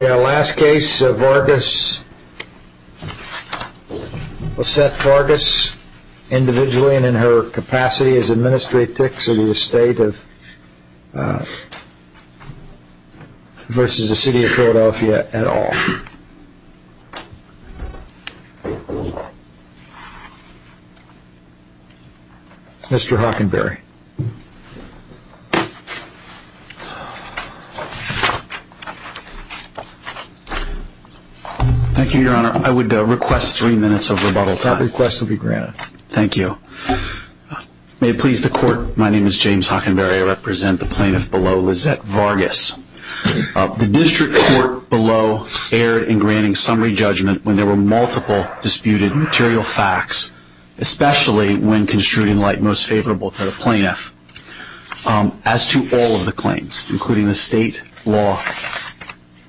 Last case of Vargas, Lysette Vargas, individually and in her capacity as Administrator of the estate versus the City of Philadelphia at all. Mr. Hockenberry. Thank you, Your Honor. I would request three minutes of rebuttal time. That request will be granted. Thank you. May it please the Court, my name is James Hockenberry. I represent the plaintiff below, Lysette Vargas. The District Court below erred in granting summary judgment when there were multiple disputed material facts, especially when construed in light most favorable to the plaintiff, as to all of the claims, including the state law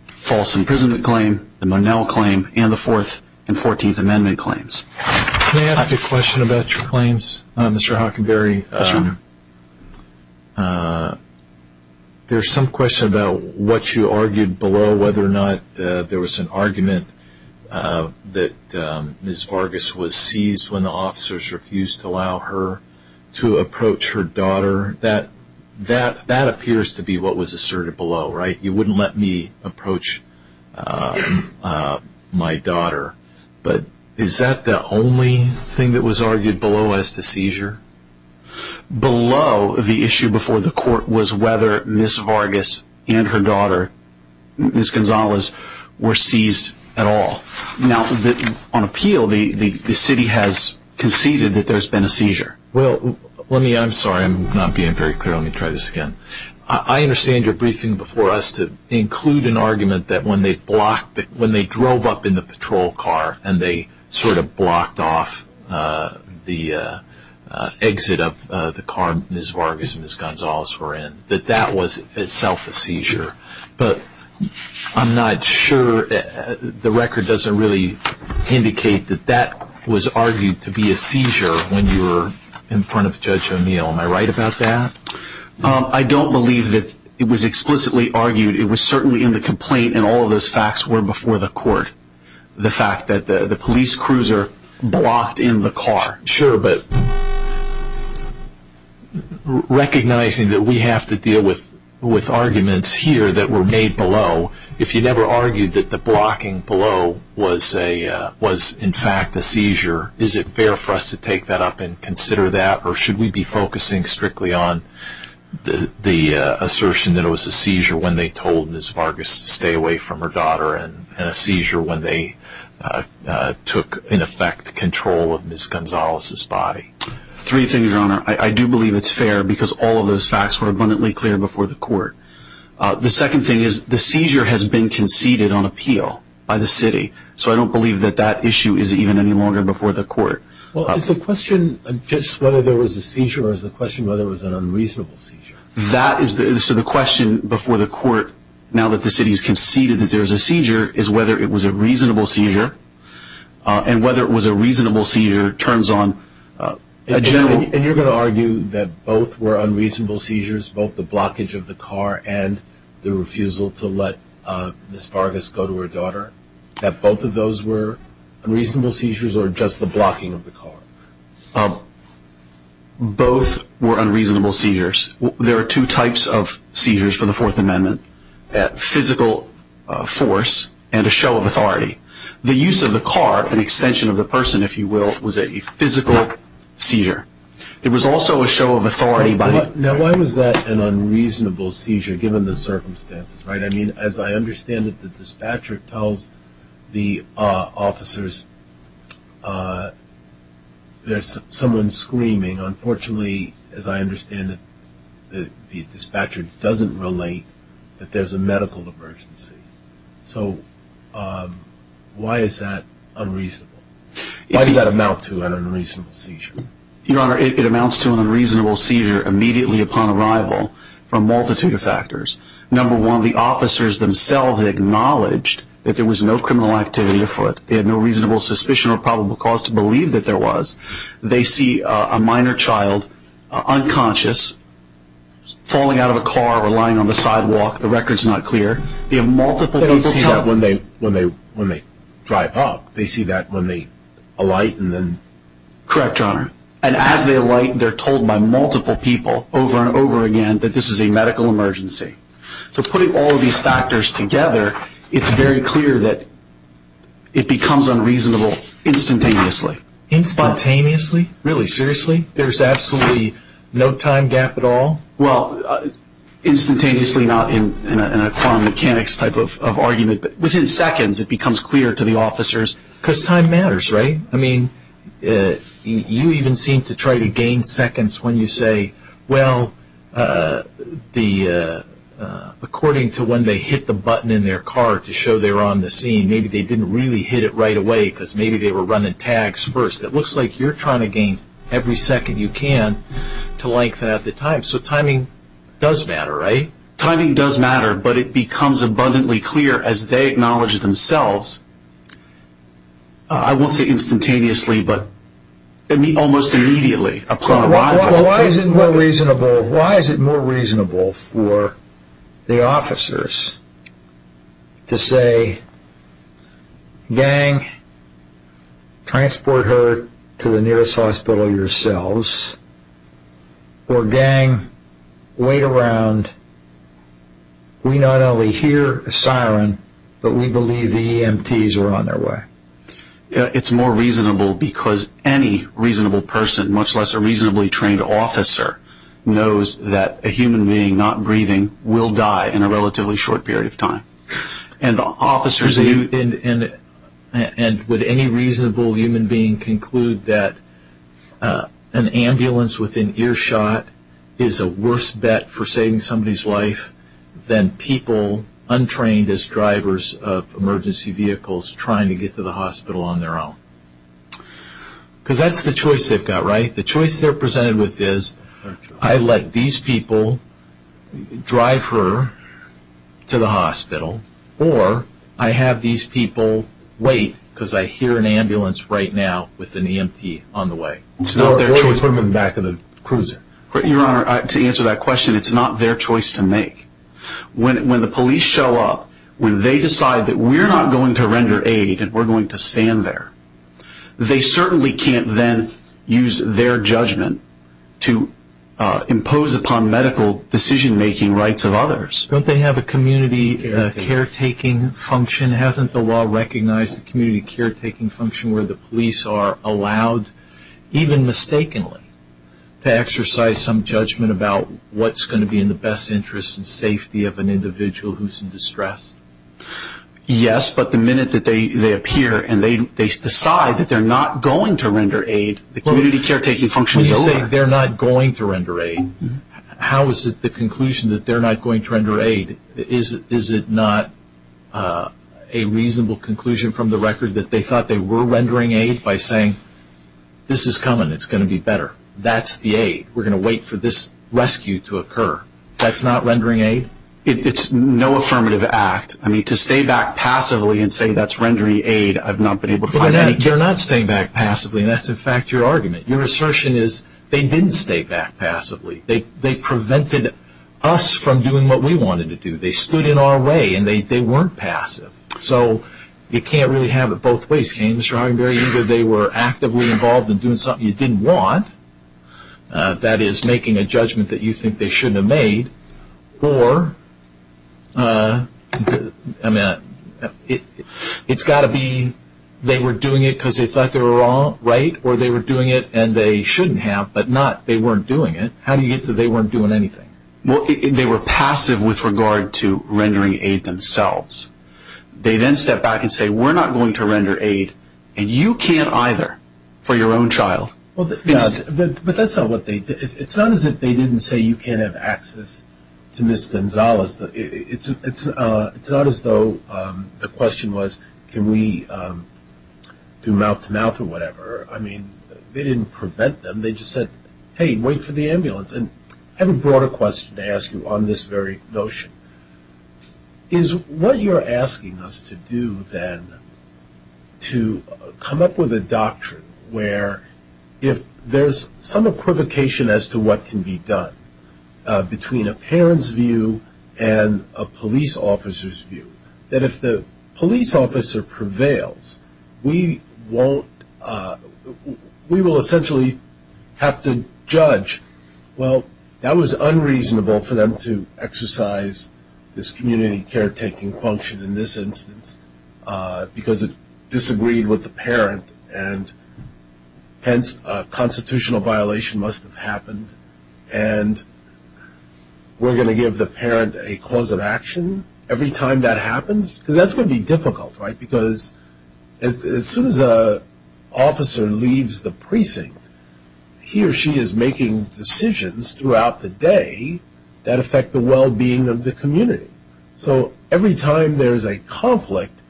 false imprisonment claim, the Monell claim, and the Fourth and Fourteenth Amendment claims. May I ask a question about your claims, Mr. Hockenberry? Yes, Your Honor. There is some question about what you argued below, whether or not there was an argument that Ms. Vargas was seized when the officers refused to allow her to approach her daughter. That appears to be what was asserted below, right? You wouldn't let me approach my daughter. But is that the only thing that was argued below as to seizure? Below the issue before the Court was whether Ms. Vargas and her daughter, Ms. Gonzalez, were seized at all. Now, on appeal, the city has conceded that there has been a seizure. Well, I'm sorry, I'm not being very clear. Let me try this again. I understand your briefing before us to include an argument that when they drove up in the patrol car and they sort of blocked off the exit of the car Ms. Vargas and Ms. Gonzalez were in, that that was itself a seizure. But I'm not sure, the record doesn't really indicate that that was argued to be a seizure when you were in front of Judge O'Neill. Am I right about that? I don't believe that it was explicitly argued. It was certainly in the complaint and all of those facts were before the Court. The fact that the police cruiser blocked in the car. Sure, but recognizing that we have to deal with arguments here that were made below, if you never argued that the blocking below was in fact a seizure, is it fair for us to take that up and consider that? Or should we be focusing strictly on the assertion that it was a seizure when they told Ms. Vargas to stay away from her daughter and a seizure when they took in effect control of Ms. Gonzalez's body? Three things, Your Honor. I do believe it's fair because all of those facts were abundantly clear before the Court. The second thing is the seizure has been conceded on appeal by the city, so I don't believe that that issue is even any longer before the Court. Well, is the question just whether there was a seizure or is the question whether it was an unreasonable seizure? So the question before the Court, now that the city has conceded that there is a seizure, is whether it was a reasonable seizure and whether it was a reasonable seizure turns on a general... And you're going to argue that both were unreasonable seizures, both the blockage of the car and the refusal to let Ms. Vargas go to her daughter, that both of those were unreasonable seizures or just the blocking of the car? Both were unreasonable seizures. There are two types of seizures for the Fourth Amendment, physical force and a show of authority. The use of the car, an extension of the person, if you will, was a physical seizure. It was also a show of authority by... Now, why was that an unreasonable seizure given the circumstances, right? I mean, as I understand it, the dispatcher tells the officers there's someone screaming. Unfortunately, as I understand it, the dispatcher doesn't relate that there's a medical emergency. So why is that unreasonable? Why did that amount to an unreasonable seizure? Your Honor, it amounts to an unreasonable seizure immediately upon arrival for a multitude of factors. Number one, the officers themselves acknowledged that there was no criminal activity afoot. They had no reasonable suspicion or probable cause to believe that there was. They see a minor child, unconscious, falling out of a car or lying on the sidewalk. The record's not clear. They have multiple people tell... They don't see that when they drive up. They see that when they alight and then... Correct, Your Honor. And as they alight, they're told by multiple people over and over again that this is a medical emergency. So putting all of these factors together, it's very clear that it becomes unreasonable instantaneously. Instantaneously? Really? Seriously? There's absolutely no time gap at all? Well, instantaneously not in a quantum mechanics type of argument, but within seconds it becomes clear to the officers because time matters, right? I mean, you even seem to try to gain seconds when you say, well, according to when they hit the button in their car to show they were on the scene, maybe they didn't really hit it right away because maybe they were running tags first. It looks like you're trying to gain every second you can to lengthen out the time. So timing does matter, right? Timing does matter, but it becomes abundantly clear as they acknowledge it themselves. I won't say instantaneously, but almost immediately upon arrival. Why is it more reasonable for the officers to say, gang, transport her to the nearest hospital yourselves, or gang, wait around. We not only hear a siren, but we believe the EMTs are on their way. Yeah, it's more reasonable because any reasonable person, much less a reasonably trained officer, knows that a human being not breathing will die in a relatively short period of time. And would any reasonable human being conclude that an ambulance within earshot is a worse bet for saving somebody's life than people untrained as drivers of emergency vehicles trying to get to the hospital on their own? Because that's the choice they've got, right? The choice they're presented with is, I let these people drive her to the hospital, or I have these people wait because I hear an ambulance right now with an EMT on the way. Why would you put them in the back of the cruiser? Your Honor, to answer that question, it's not their choice to make. When the police show up, when they decide that we're not going to render aid and we're going to stand there, they certainly can't then use their judgment to impose upon medical decision-making rights of others. Don't they have a community caretaking function? Hasn't the law recognized the community caretaking function where the police are allowed, even mistakenly, to exercise some judgment about what's going to be in the best interest and safety of an individual who's in distress? Yes, but the minute that they appear and they decide that they're not going to render aid, the community caretaking function is over. When you say they're not going to render aid, how is it the conclusion that they're not going to render aid? Is it not a reasonable conclusion from the record that they thought they were rendering aid by saying, this is coming, it's going to be better, that's the aid, we're going to wait for this rescue to occur. That's not rendering aid? It's no affirmative act. I mean, to stay back passively and say that's rendering aid, I've not been able to find any cure. You're not staying back passively, and that's, in fact, your argument. Your assertion is they didn't stay back passively. They prevented us from doing what we wanted to do. They stood in our way, and they weren't passive. So you can't really have it both ways. Either they were actively involved in doing something you didn't want, that is making a judgment that you think they shouldn't have made, or it's got to be they were doing it because they thought they were right, or they were doing it and they shouldn't have, but not they weren't doing it. How do you get that they weren't doing anything? Well, they were passive with regard to rendering aid themselves. They then step back and say we're not going to render aid, and you can't either for your own child. But that's not what they did. It's not as if they didn't say you can't have access to Ms. Gonzalez. It's not as though the question was can we do mouth-to-mouth or whatever. I mean, they didn't prevent them. They just said, hey, wait for the ambulance. And I have a broader question to ask you on this very notion. Is what you're asking us to do then to come up with a doctrine where if there's some equivocation as to what can be done between a parent's view and a police officer's view, that if the police officer prevails, we will essentially have to judge, well, that was unreasonable for them to exercise this community caretaking function in this instance because it disagreed with the parent, and hence a constitutional violation must have happened. And we're going to give the parent a cause of action? Every time that happens? Because that's going to be difficult, right? Because as soon as an officer leaves the precinct, he or she is making decisions throughout the day that affect the well-being of the community. So every time there's a conflict,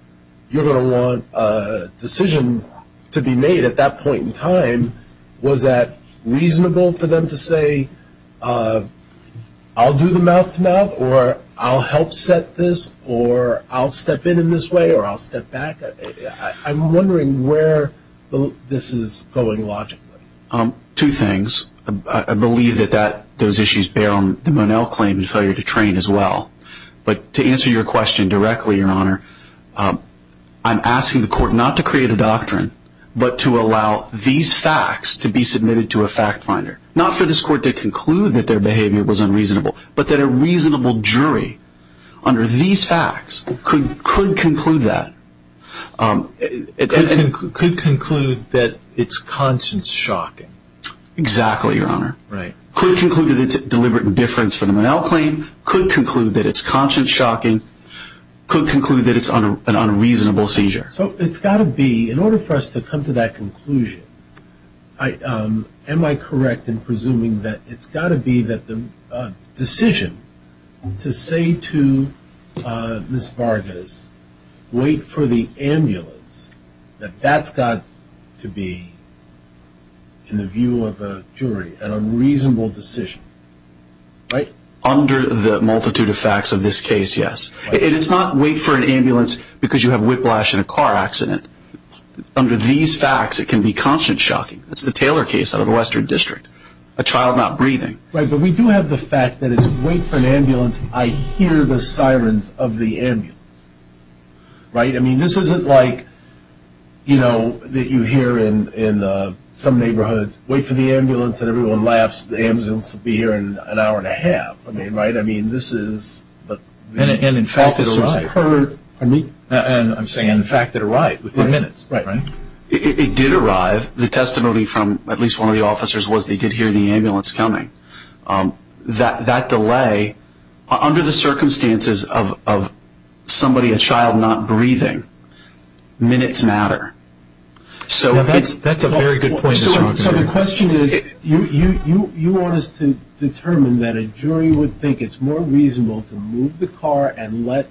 you're going to want a decision to be made at that point in time. Was that reasonable for them to say, I'll do the mouth-to-mouth, or I'll help set this, or I'll step in in this way, or I'll step back? I'm wondering where this is going logically. Two things. I believe that those issues bear on the Monell claim and failure to train as well. But to answer your question directly, Your Honor, I'm asking the court not to create a doctrine, but to allow these facts to be submitted to a fact-finder. Not for this court to conclude that their behavior was unreasonable, but that a reasonable jury under these facts could conclude that. Could conclude that it's conscience-shocking. Exactly, Your Honor. Could conclude that it's a deliberate indifference for the Monell claim. Could conclude that it's conscience-shocking. Could conclude that it's an unreasonable seizure. So it's got to be, in order for us to come to that conclusion, am I correct in presuming that it's got to be that the decision to say to Ms. Vargas, wait for the ambulance, that that's got to be, in the view of a jury, an unreasonable decision, right? Under the multitude of facts of this case, yes. It's not wait for an ambulance because you have whiplash in a car accident. Under these facts, it can be conscience-shocking. That's the Taylor case out of the Western District. A child not breathing. Right, but we do have the fact that it's wait for an ambulance, I hear the sirens of the ambulance. Right? I mean, this isn't like, you know, that you hear in some neighborhoods, wait for the ambulance and everyone laughs, the ambulance will be here in an hour and a half. I mean, right? I mean, this is the officers have heard, and I'm saying the fact that it arrived within minutes. It did arrive. The testimony from at least one of the officers was they did hear the ambulance coming. That delay, under the circumstances of somebody, a child not breathing, minutes matter. So that's a very good point. So the question is, you want us to determine that a jury would think it's more reasonable to move the car and let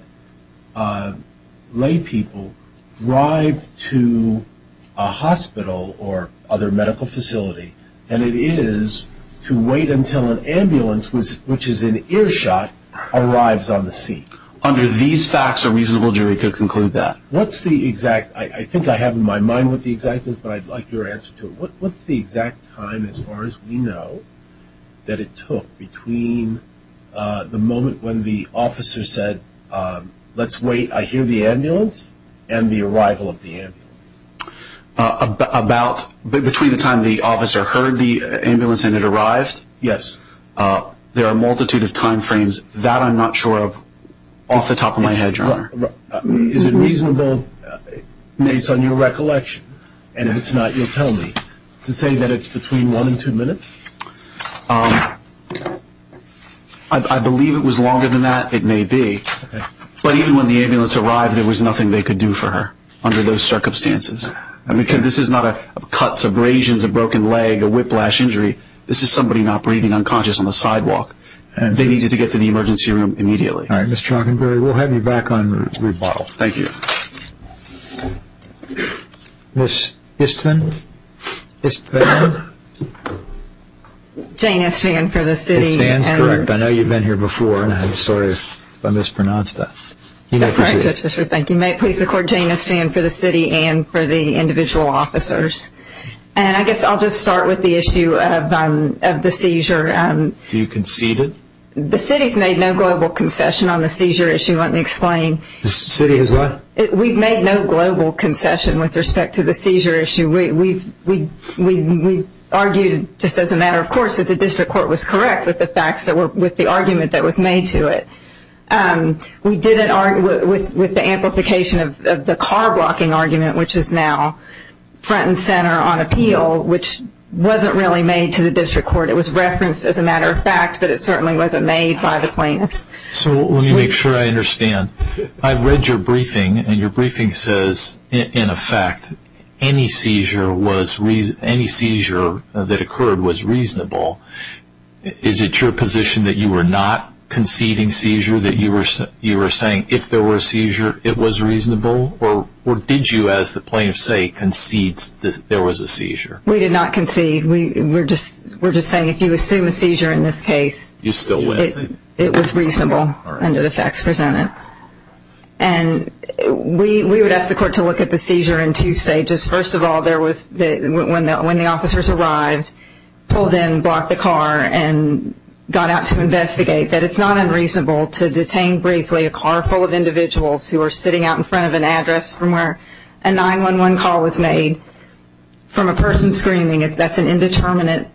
lay people drive to a hospital or other medical facility than it is to wait until an ambulance, which is an earshot, arrives on the scene. Under these facts, a reasonable jury could conclude that. I think I have in my mind what the exact is, but I'd like your answer to it. What's the exact time, as far as we know, that it took between the moment when the officer said, let's wait, I hear the ambulance, and the arrival of the ambulance? Between the time the officer heard the ambulance and it arrived? Yes. There are a multitude of time frames. Is it reasonable, based on your recollection, and if it's not, you'll tell me, to say that it's between one and two minutes? I believe it was longer than that. It may be. But even when the ambulance arrived, there was nothing they could do for her under those circumstances. This is not a cut, abrasions, a broken leg, a whiplash injury. This is somebody not breathing, unconscious on the sidewalk. They needed to get to the emergency room immediately. All right. Ms. Trockenberry, we'll have you back on rebuttal. Thank you. Ms. Van? Jane Estran for the city. Ms. Van is correct. I know you've been here before, and I'm sorry if I mispronounced that. That's all right, Judge Fisher. Thank you. May it please the Court, Jane Estran for the city and for the individual officers. I guess I'll just start with the issue of the seizure. Do you concede it? The city has made no global concession on the seizure issue. Let me explain. The city has what? We've made no global concession with respect to the seizure issue. We've argued, just as a matter of course, that the district court was correct with the argument that was made to it. We did it with the amplification of the car-blocking argument, which is now front and center on appeal, which wasn't really made to the district court. It was referenced as a matter of fact, but it certainly wasn't made by the plaintiffs. So let me make sure I understand. I read your briefing, and your briefing says, in effect, any seizure that occurred was reasonable. Is it your position that you were not conceding seizure, that you were saying if there were a seizure, it was reasonable? Or did you, as the plaintiffs say, concede that there was a seizure? We did not concede. We're just saying if you assume a seizure in this case, it was reasonable under the facts presented. And we would ask the court to look at the seizure in two stages. First of all, when the officers arrived, pulled in, blocked the car, and got out to investigate, that it's not unreasonable to detain briefly a car full of individuals who are sitting out in front of an address from where a 911 call was made from a person screaming. That's an indeterminate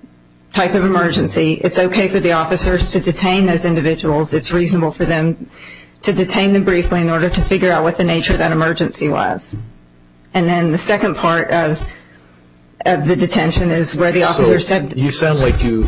type of emergency. It's okay for the officers to detain those individuals. It's reasonable for them to detain them briefly in order to figure out what the nature of that emergency was. And then the second part of the detention is where the officers said. You sound like you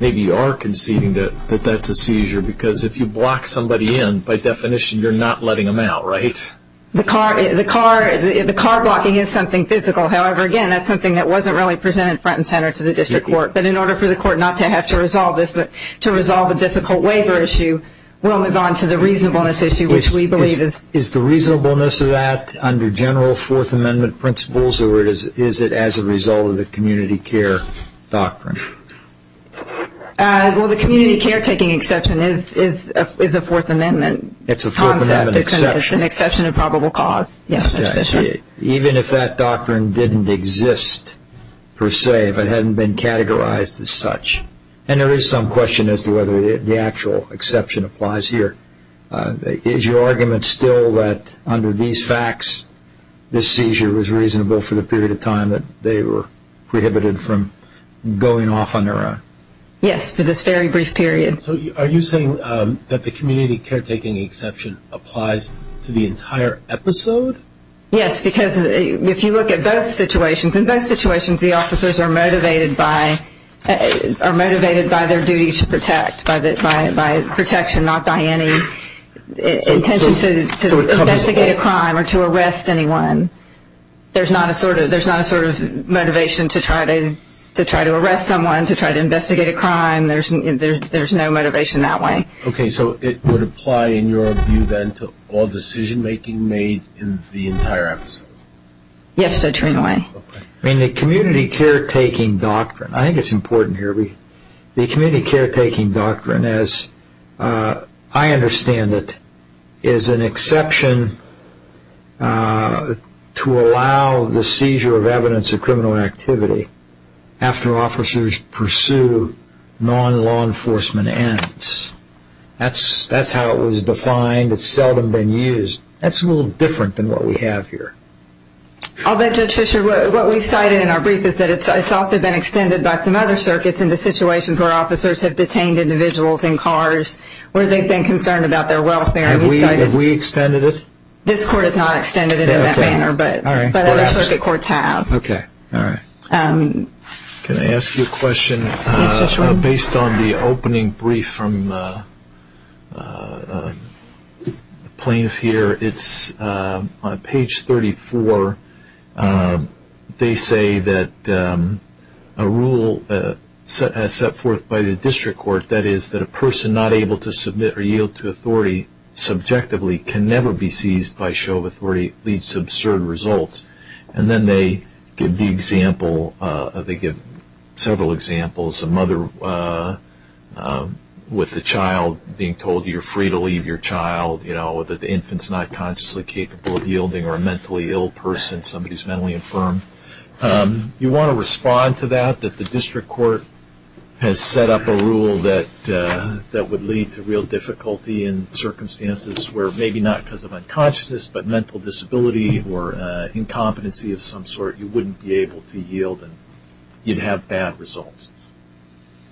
maybe are conceding that that's a seizure, because if you block somebody in, by definition, you're not letting them out, right? The car blocking is something physical. However, again, that's something that wasn't really presented front and center to the district court. But in order for the court not to have to resolve this, to resolve a difficult waiver issue, we'll move on to the reasonableness issue, which we believe is. Is the reasonableness of that under general Fourth Amendment principles, or is it as a result of the community care doctrine? Well, the community care taking exception is a Fourth Amendment concept. It's an exception of probable cause. Even if that doctrine didn't exist per se, if it hadn't been categorized as such. And there is some question as to whether the actual exception applies here. Is your argument still that under these facts, this seizure was reasonable for the period of time that they were prohibited from going off on their own? Yes, for this very brief period. So are you saying that the community care taking exception applies to the entire episode? Yes, because if you look at both situations, in both situations the officers are motivated by their duty to protect, by protection, not by any intention to investigate a crime or to arrest anyone. There's not a sort of motivation to try to arrest someone, to try to investigate a crime. There's no motivation that way. Okay, so it would apply in your view then to all decision making made in the entire episode? Yes, to a certain way. Okay. I mean the community care taking doctrine, I think it's important here. The community care taking doctrine, as I understand it, is an exception to allow the seizure of evidence of criminal activity after officers pursue non-law enforcement errands. That's how it was defined. It's seldom been used. That's a little different than what we have here. I'll bet, Judge Fisher, what we cited in our brief is that it's also been extended by some other circuits into situations where officers have detained individuals in cars, where they've been concerned about their welfare. Have we extended it? This court has not extended it in that manner, but other circuit courts have. Okay, all right. Can I ask you a question? Based on the opening brief from the plaintiff here, it's on page 34. They say that a rule set forth by the district court, that is that a person not able to submit or yield to authority subjectively can never be seized by show of authority leads to absurd results. And then they give several examples, a mother with a child being told you're free to leave your child, that the infant's not consciously capable of yielding, or a mentally ill person, somebody who's mentally infirm. You want to respond to that, that the district court has set up a rule that would lead to real difficulty in circumstances where maybe not because of unconsciousness, but mental disability or incompetency of some sort, you wouldn't be able to yield and you'd have bad results.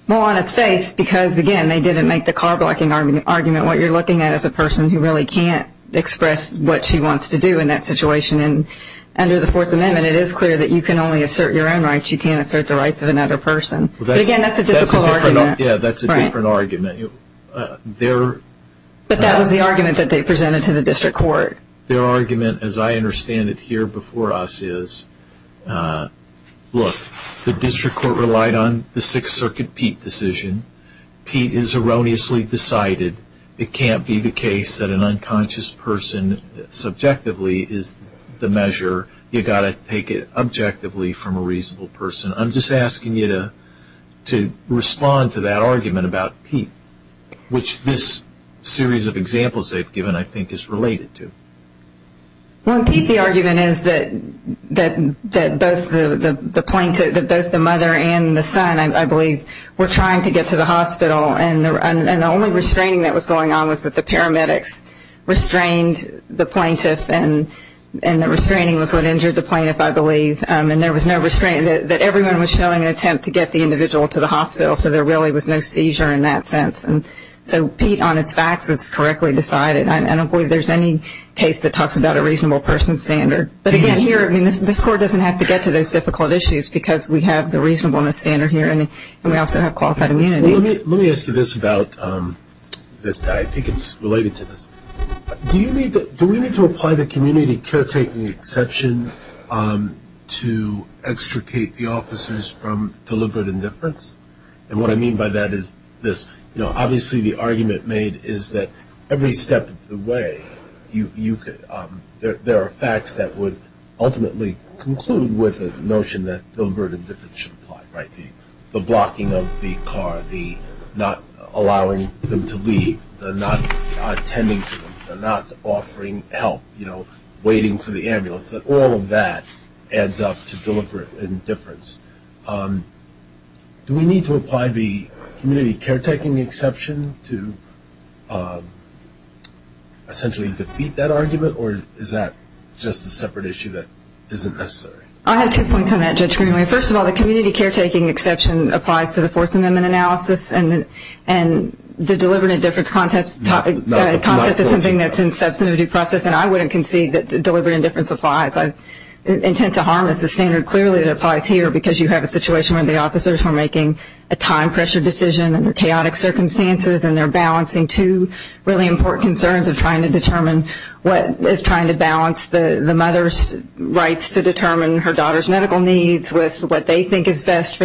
Well, on its face, because, again, they didn't make the car blocking argument, what you're looking at is a person who really can't express what she wants to do in that situation. And under the Fourth Amendment, it is clear that you can only assert your own rights. You can't assert the rights of another person. But, again, that's a difficult argument. Yeah, that's a different argument. But that was the argument that they presented to the district court. Their argument, as I understand it here before us, is, look, the district court relied on the Sixth Circuit Pete decision. Pete is erroneously decided. It can't be the case that an unconscious person subjectively is the measure. You've got to take it objectively from a reasonable person. I'm just asking you to respond to that argument about Pete, which this series of examples they've given, I think, is related to. Well, in Pete, the argument is that both the mother and the son, I believe, were trying to get to the hospital, and the only restraining that was going on was that the paramedics restrained the plaintiff, and the restraining was what injured the plaintiff, I believe. And there was no restraint, that everyone was showing an attempt to get the individual to the hospital, so there really was no seizure in that sense. So Pete, on its facts, is correctly decided. I don't believe there's any case that talks about a reasonable person standard. But, again, here, I mean, this court doesn't have to get to those difficult issues because we have the reasonableness standard here, and we also have qualified immunity. Let me ask you this about this. I think it's related to this. Do we need to apply the community caretaking exception to extricate the officers from deliberate indifference? And what I mean by that is this. Obviously, the argument made is that every step of the way, there are facts that would ultimately conclude with the notion that deliberate indifference should apply, right, the blocking of the car, the not allowing them to leave, the not attending to them, the not offering help, you know, waiting for the ambulance, that all of that adds up to deliberate indifference. Do we need to apply the community caretaking exception to essentially defeat that argument, or is that just a separate issue that isn't necessary? I have two points on that, Judge Greenway. First of all, the community caretaking exception applies to the fourth amendment analysis, and the deliberate indifference concept is something that's in substantive due process, and I wouldn't concede that deliberate indifference applies. Intent to harm is the standard clearly that applies here because you have a situation where the officers were making a time pressure decision under chaotic circumstances, and they're balancing two really important concerns of trying to determine what, what they think is best for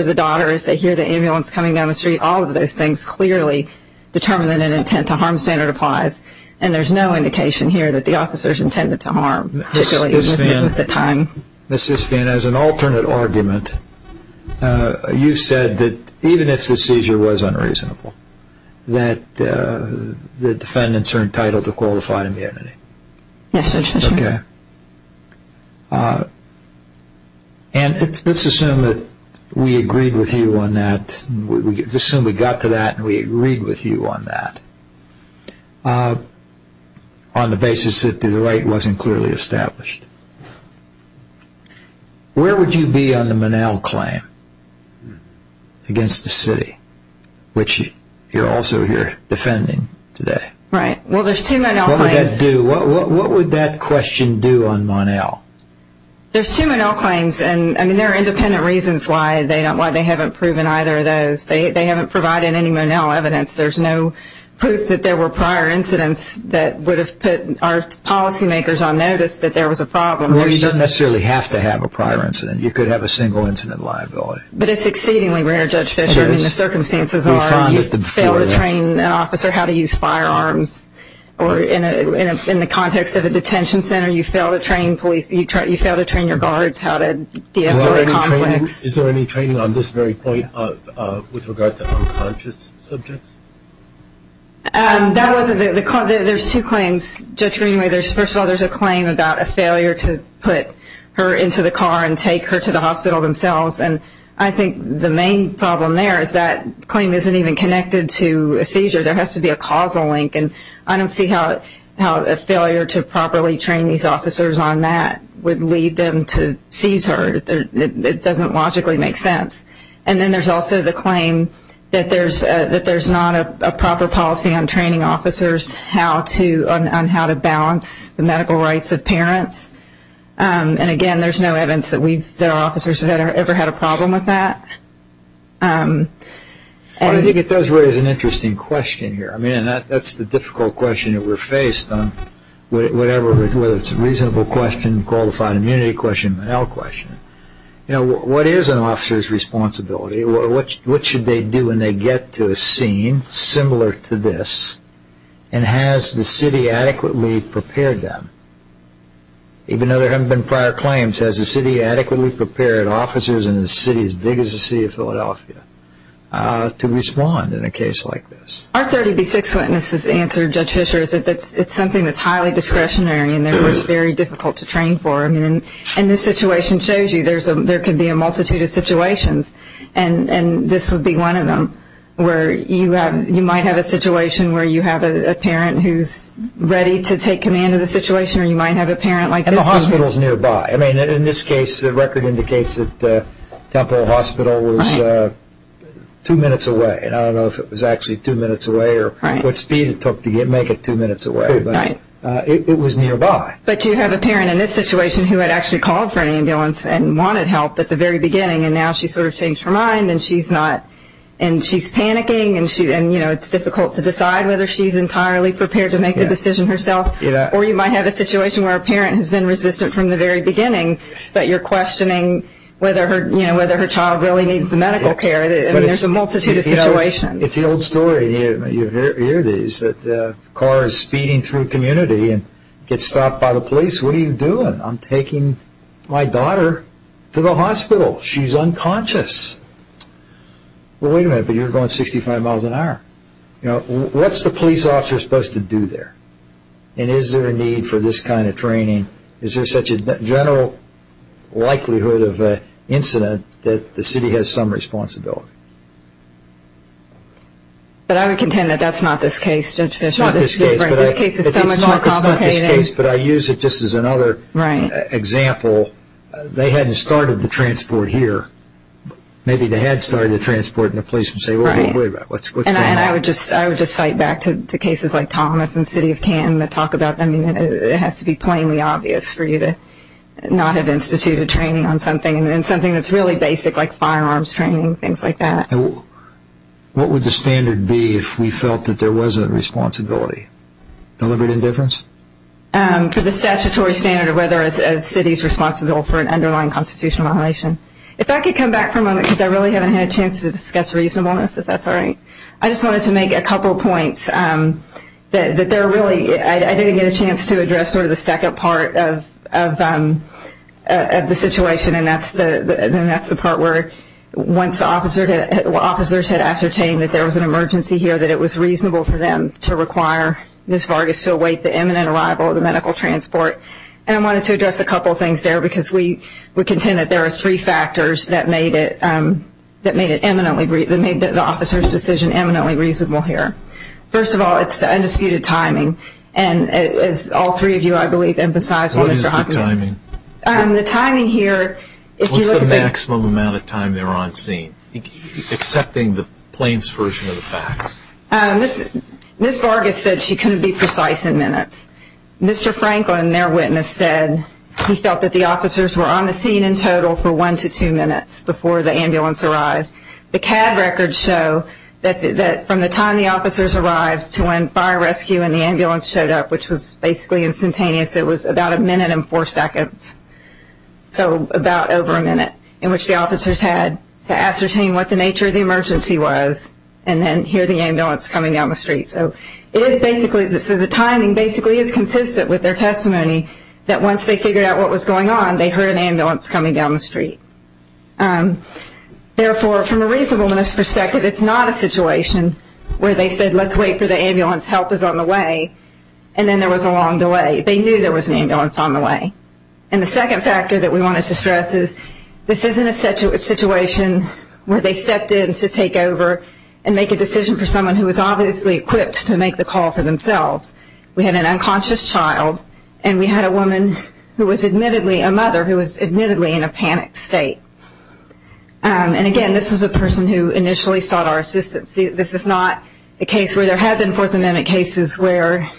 the daughter as they hear the ambulance coming down the street. All of those things clearly determine that an intent to harm standard applies, and there's no indication here that the officers intended to harm, particularly with the time. Mrs. Fienne, as an alternate argument, you said that even if the seizure was unreasonable, that the defendants are entitled to qualified immunity. Yes, Judge Fisher. Okay. And let's assume that we agreed with you on that. Let's assume we got to that and we agreed with you on that, on the basis that the right wasn't clearly established. Where would you be on the Monell claim against the city, which you're also here defending today? Right. Well, there's two Monell claims. What would that do? What would that question do on Monell? There's two Monell claims, and there are independent reasons why they haven't proven either of those. They haven't provided any Monell evidence. There's no proof that there were prior incidents that would have put our policymakers on notice that there was a problem. Well, you don't necessarily have to have a prior incident. You could have a single incident liability. But it's exceedingly rare, Judge Fisher. I mean, the circumstances are you fail to train an officer how to use firearms or in the context of a detention center, you fail to train police, you fail to train your guards how to de-escalate conflicts. Is there any training on this very point with regard to unconscious subjects? There's two claims, Judge Greenway. First of all, there's a claim about a failure to put her into the car and take her to the hospital themselves. And I think the main problem there is that claim isn't even connected to a seizure. There has to be a causal link. And I don't see how a failure to properly train these officers on that would lead them to seize her. It doesn't logically make sense. And then there's also the claim that there's not a proper policy on training officers on how to balance the medical rights of parents. And, again, there's no evidence that our officers have ever had a problem with that. Well, I think it does raise an interesting question here. I mean, that's the difficult question that we're faced on whatever, whether it's a reasonable question, a qualified immunity question, an L question. You know, what is an officer's responsibility? What should they do when they get to a scene similar to this? And has the city adequately prepared them? Even though there haven't been prior claims, has the city adequately prepared officers in a city as big as the city of Philadelphia to respond in a case like this? Our 30B6 witnesses answered, Judge Fischer, that it's something that's highly discretionary and therefore it's very difficult to train for. And this situation shows you there could be a multitude of situations, and this would be one of them where you might have a situation where you have a parent who's ready to take command of the situation or you might have a parent like this who's... And the hospital's nearby. I mean, in this case, the record indicates that Temple Hospital was two minutes away, and I don't know if it was actually two minutes away or what speed it took to make it two minutes away, but it was nearby. But you have a parent in this situation who had actually called for an ambulance and wanted help at the very beginning, and now she's sort of changed her mind and she's panicking and it's difficult to decide whether she's entirely prepared to make the decision herself or you might have a situation where a parent has been resistant from the very beginning but you're questioning whether her child really needs medical care. I mean, there's a multitude of situations. It's the old story. You hear these that cars speeding through a community and get stopped by the police. What are you doing? I'm taking my daughter to the hospital. She's unconscious. Well, wait a minute, but you're going 65 miles an hour. What's the police officer supposed to do there? And is there a need for this kind of training? Is there such a general likelihood of an incident that the city has some responsibility? But I would contend that that's not this case, Judge Fishman. It's not this case. This case is so much more complicated. But I use it just as another example. They hadn't started the transport here. Maybe they had started the transport and the police would say, Wait a minute, what's going on? And I would just cite back to cases like Thomas and City of Canton that talk about them. It has to be plainly obvious for you to not have instituted training on something, and something that's really basic like firearms training, things like that. What would the standard be if we felt that there was a responsibility? Deliberate indifference? For the statutory standard of whether a city is responsible for an underlying constitutional violation. If I could come back for a moment, because I really haven't had a chance to discuss reasonableness, if that's all right. I just wanted to make a couple of points. I didn't get a chance to address sort of the second part of the situation, and that's the part where once the officers had ascertained that there was an emergency here, that it was reasonable for them to require Ms. Vargas to await the imminent arrival of the medical transport. And I wanted to address a couple of things there, because we contend that there are three factors that made the officer's decision eminently reasonable here. First of all, it's the undisputed timing, and as all three of you, I believe, emphasized. What is the timing? The timing here, if you look at the- Ms. Vargas said she couldn't be precise in minutes. Mr. Franklin, their witness, said he felt that the officers were on the scene in total for one to two minutes before the ambulance arrived. The CAD records show that from the time the officers arrived to when fire rescue and the ambulance showed up, which was basically instantaneous, it was about a minute and four seconds, so about over a minute in which the officers had to ascertain what the nature of the emergency was and then hear the ambulance coming down the street. So the timing basically is consistent with their testimony that once they figured out what was going on, they heard an ambulance coming down the street. Therefore, from a reasonableness perspective, it's not a situation where they said, let's wait for the ambulance, help is on the way, and then there was a long delay. They knew there was an ambulance on the way. And the second factor that we wanted to stress is this isn't a situation where they stepped in to take over and make a decision for someone who was obviously equipped to make the call for themselves. We had an unconscious child and we had a woman who was admittedly a mother who was admittedly in a panicked state. And again, this was a person who initially sought our assistance. This is not a case where there have been Fourth Amendment cases where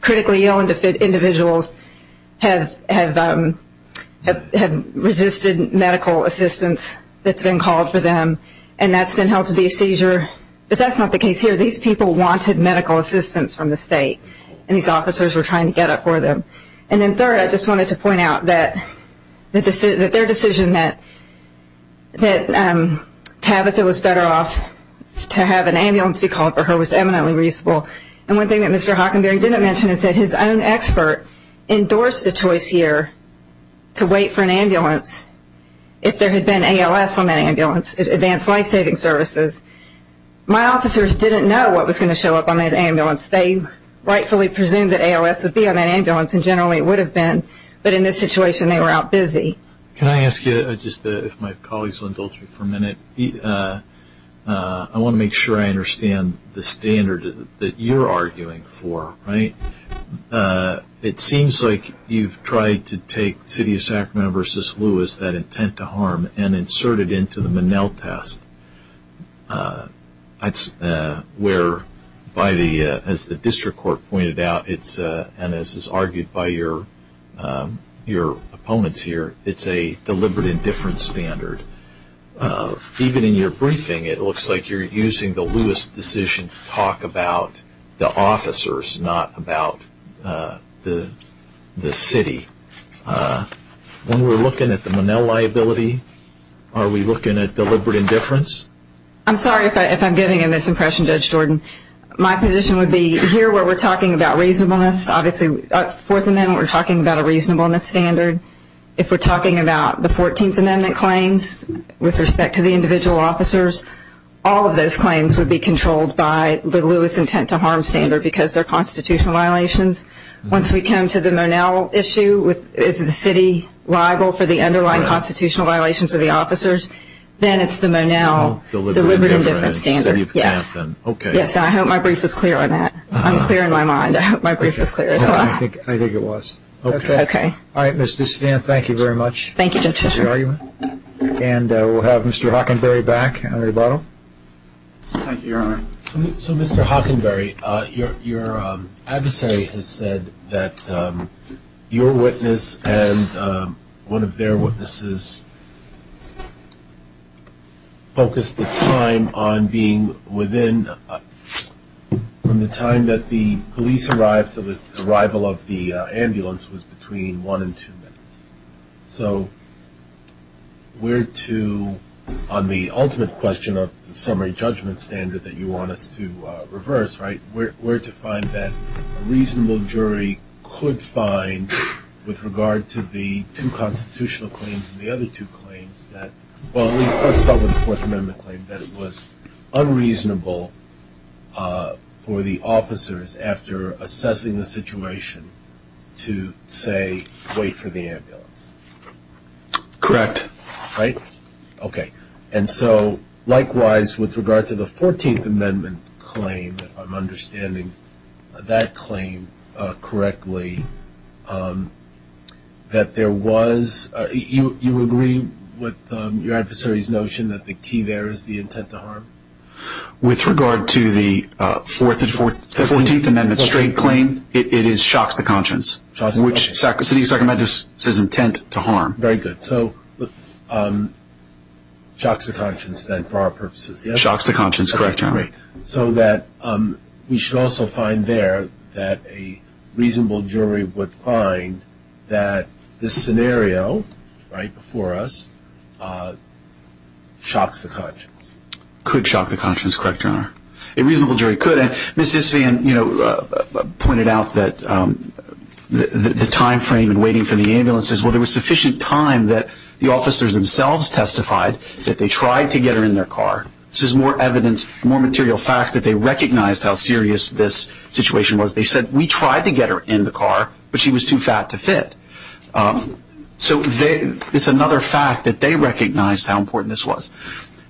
critically ill individuals have resisted medical assistance that's been called for them and that's been held to be a seizure, but that's not the case here. These people wanted medical assistance from the state, and these officers were trying to get it for them. And then third, I just wanted to point out that their decision that Tavissa was better off to have an ambulance be called for her was eminently reasonable. And one thing that Mr. Hockenberry didn't mention is that his own expert endorsed a choice here to wait for an ambulance if there had been ALS on that ambulance, advanced life-saving services. My officers didn't know what was going to show up on that ambulance. They rightfully presumed that ALS would be on that ambulance, and generally it would have been, but in this situation they were out busy. Can I ask you, if my colleagues will indulge me for a minute, I want to make sure I understand the standard that you're arguing for, right? It seems like you've tried to take City of Sacramento v. Lewis, that intent to harm, and insert it into the Monell test. That's where, as the district court pointed out, and as is argued by your opponents here, it's a deliberate indifference standard. Even in your briefing, it looks like you're using the Lewis decision to talk about the officers, not about the city. When we're looking at the Monell liability, are we looking at deliberate indifference? I'm sorry if I'm giving a misimpression, Judge Jordan. My position would be, here where we're talking about reasonableness, obviously Fourth Amendment, we're talking about a reasonableness standard. If we're talking about the Fourteenth Amendment claims with respect to the individual officers, all of those claims would be controlled by the Lewis intent to harm standard because they're constitutional violations. Once we come to the Monell issue, is the city liable for the underlying constitutional violations of the officers, then it's the Monell deliberate indifference standard. Yes. Okay. Yes, I hope my brief was clear on that. I'm clear in my mind. I hope my brief was clear as well. I think it was. Okay. Okay. All right, Ms. Disvan, thank you very much. Thank you, Judge. And we'll have Mr. Hockenberry back on rebuttal. Thank you, Your Honor. So, Mr. Hockenberry, your adversary has said that your witness and one of their witnesses focused the time on being within the time that the police arrived until the arrival of the ambulance was between one and two minutes. So, where to, on the ultimate question of the summary judgment standard that you want us to reverse, right, where to find that a reasonable jury could find with regard to the two constitutional claims and the other two claims that, well, let's start with the Fourth Amendment claim, that it was unreasonable for the officers, after assessing the situation, to say, wait for the ambulance. Correct. Right? Okay. And so, likewise, with regard to the Fourteenth Amendment claim, if I'm understanding that claim correctly, that there was, you agree with your adversary's notion that the key there is the intent to harm? With regard to the Fourteenth Amendment straight claim, it is shocks to conscience. Shocks to conscience. Which the second amendment says intent to harm. Very good. So, shocks to conscience then for our purposes, yes? Shocks to conscience, correct, Your Honor. Anyway, so that we should also find there that a reasonable jury would find that this scenario right before us shocks the conscience. Could shock the conscience, correct, Your Honor? A reasonable jury could. And Ms. Isvan, you know, pointed out that the time frame in waiting for the ambulance is, well, there was sufficient time that the officers themselves testified that they tried to get her in their car. This is more evidence, more material fact that they recognized how serious this situation was. They said, we tried to get her in the car, but she was too fat to fit. So, it's another fact that they recognized how important this was.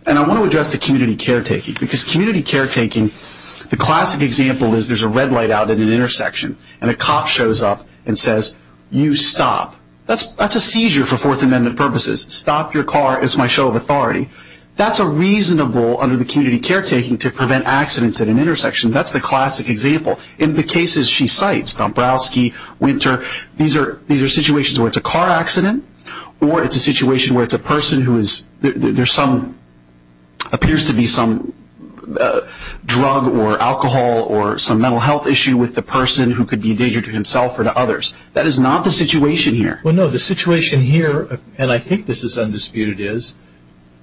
And I want to address the community caretaking. Because community caretaking, the classic example is there's a red light out at an intersection, and a cop shows up and says, you stop. That's a seizure for Fourth Amendment purposes. Stop your car. It's my show of authority. That's a reasonable, under the community caretaking, to prevent accidents at an intersection. That's the classic example. In the cases she cites, Dombrowski, Winter, these are situations where it's a car accident, or it's a situation where it's a person who is, there's some, appears to be some drug or alcohol or some mental health issue with the person who could be a danger to himself or to others. That is not the situation here. Well, no, the situation here, and I think this is undisputed, is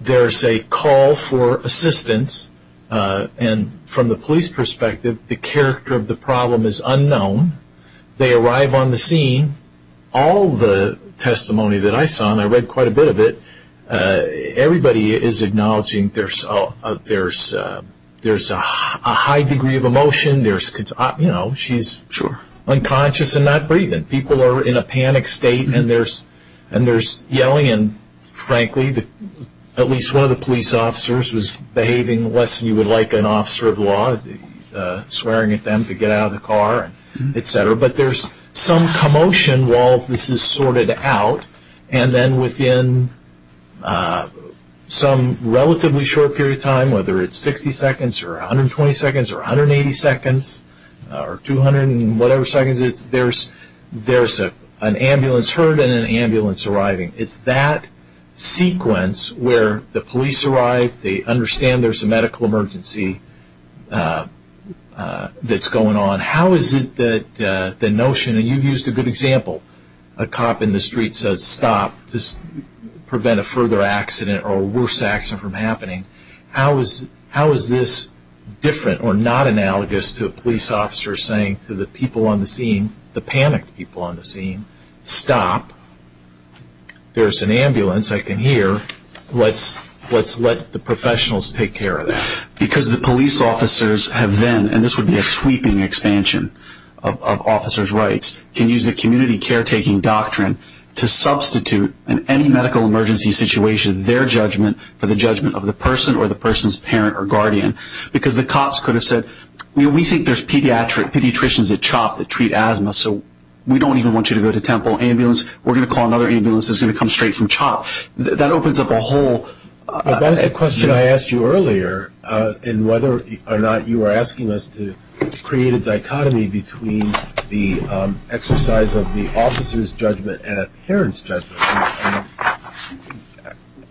there's a call for assistance. And from the police perspective, the character of the problem is unknown. They arrive on the scene. All the testimony that I saw, and I read quite a bit of it, everybody is acknowledging there's a high degree of emotion. You know, she's unconscious and not breathing. People are in a panic state, and there's yelling. And, frankly, at least one of the police officers was behaving less than you would like an officer of law, swearing at them to get out of the car, et cetera. But there's some commotion while this is sorted out. And then within some relatively short period of time, whether it's 60 seconds or 120 seconds or 180 seconds or 200 and whatever seconds, there's an ambulance heard and an ambulance arriving. It's that sequence where the police arrive, they understand there's a medical emergency that's going on. How is it that the notion, and you've used a good example, a cop in the street says stop to prevent a further accident or worse accident from happening. How is this different or not analogous to a police officer saying to the people on the scene, the panicked people on the scene, stop, there's an ambulance I can hear, let's let the professionals take care of that. Because the police officers have then, and this would be a sweeping expansion of officers' rights, can use the community caretaking doctrine to substitute in any medical emergency situation their judgment for the judgment of the person or the person's parent or guardian. Because the cops could have said, we think there's pediatricians at CHOP that treat asthma, so we don't even want you to go to Temple Ambulance. We're going to call another ambulance that's going to come straight from CHOP. That opens up a whole. That is the question I asked you earlier in whether or not you were asking us to create a dichotomy between the exercise of the officer's judgment and a parent's judgment.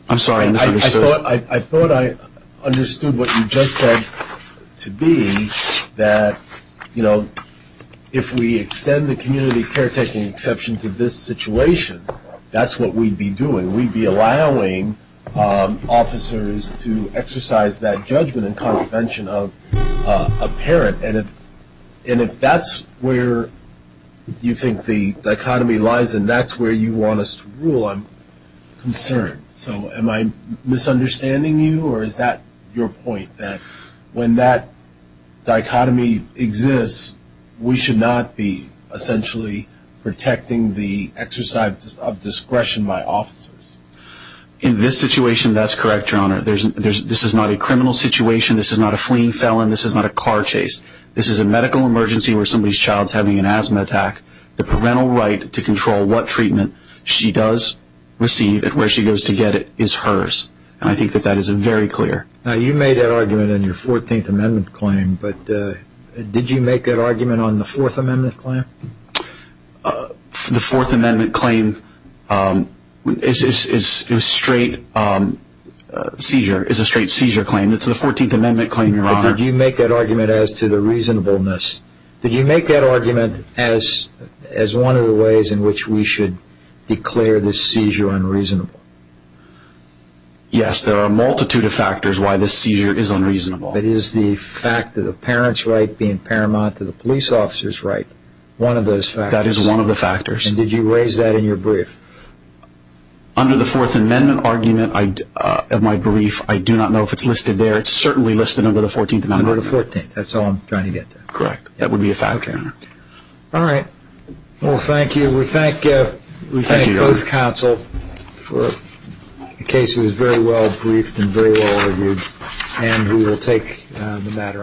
I'm sorry, I misunderstood. I thought I understood what you just said to be that, you know, if we extend the community caretaking exception to this situation, that's what we'd be doing. We'd be allowing officers to exercise that judgment and contravention of a parent. And if that's where you think the dichotomy lies and that's where you want us to rule, I'm concerned. So am I misunderstanding you, or is that your point, that when that dichotomy exists, we should not be essentially protecting the exercise of discretion by officers? In this situation, that's correct, Your Honor. This is not a criminal situation. This is not a fleeing felon. This is not a car chase. This is a medical emergency where somebody's child is having an asthma attack. The parental right to control what treatment she does receive and where she goes to get it is hers. And I think that that is very clear. Now, you made that argument in your 14th Amendment claim, but did you make that argument on the Fourth Amendment claim? The Fourth Amendment claim is a straight seizure claim. It's the 14th Amendment claim, Your Honor. But did you make that argument as to the reasonableness? Did you make that argument as one of the ways in which we should declare this seizure unreasonable? Yes. There are a multitude of factors why this seizure is unreasonable. It is the fact that the parents' right being paramount to the police officer's right, one of those factors. That is one of the factors. And did you raise that in your brief? Under the Fourth Amendment argument of my brief, I do not know if it's listed there. It's certainly listed under the 14th Amendment argument. Under the 14th. That's all I'm trying to get to. Correct. That would be a fact, Your Honor. All right. Well, thank you. Thank you, Your Honor. We thank both counsel for a case that was very well briefed and very well reviewed. And we will take the matter under advisement.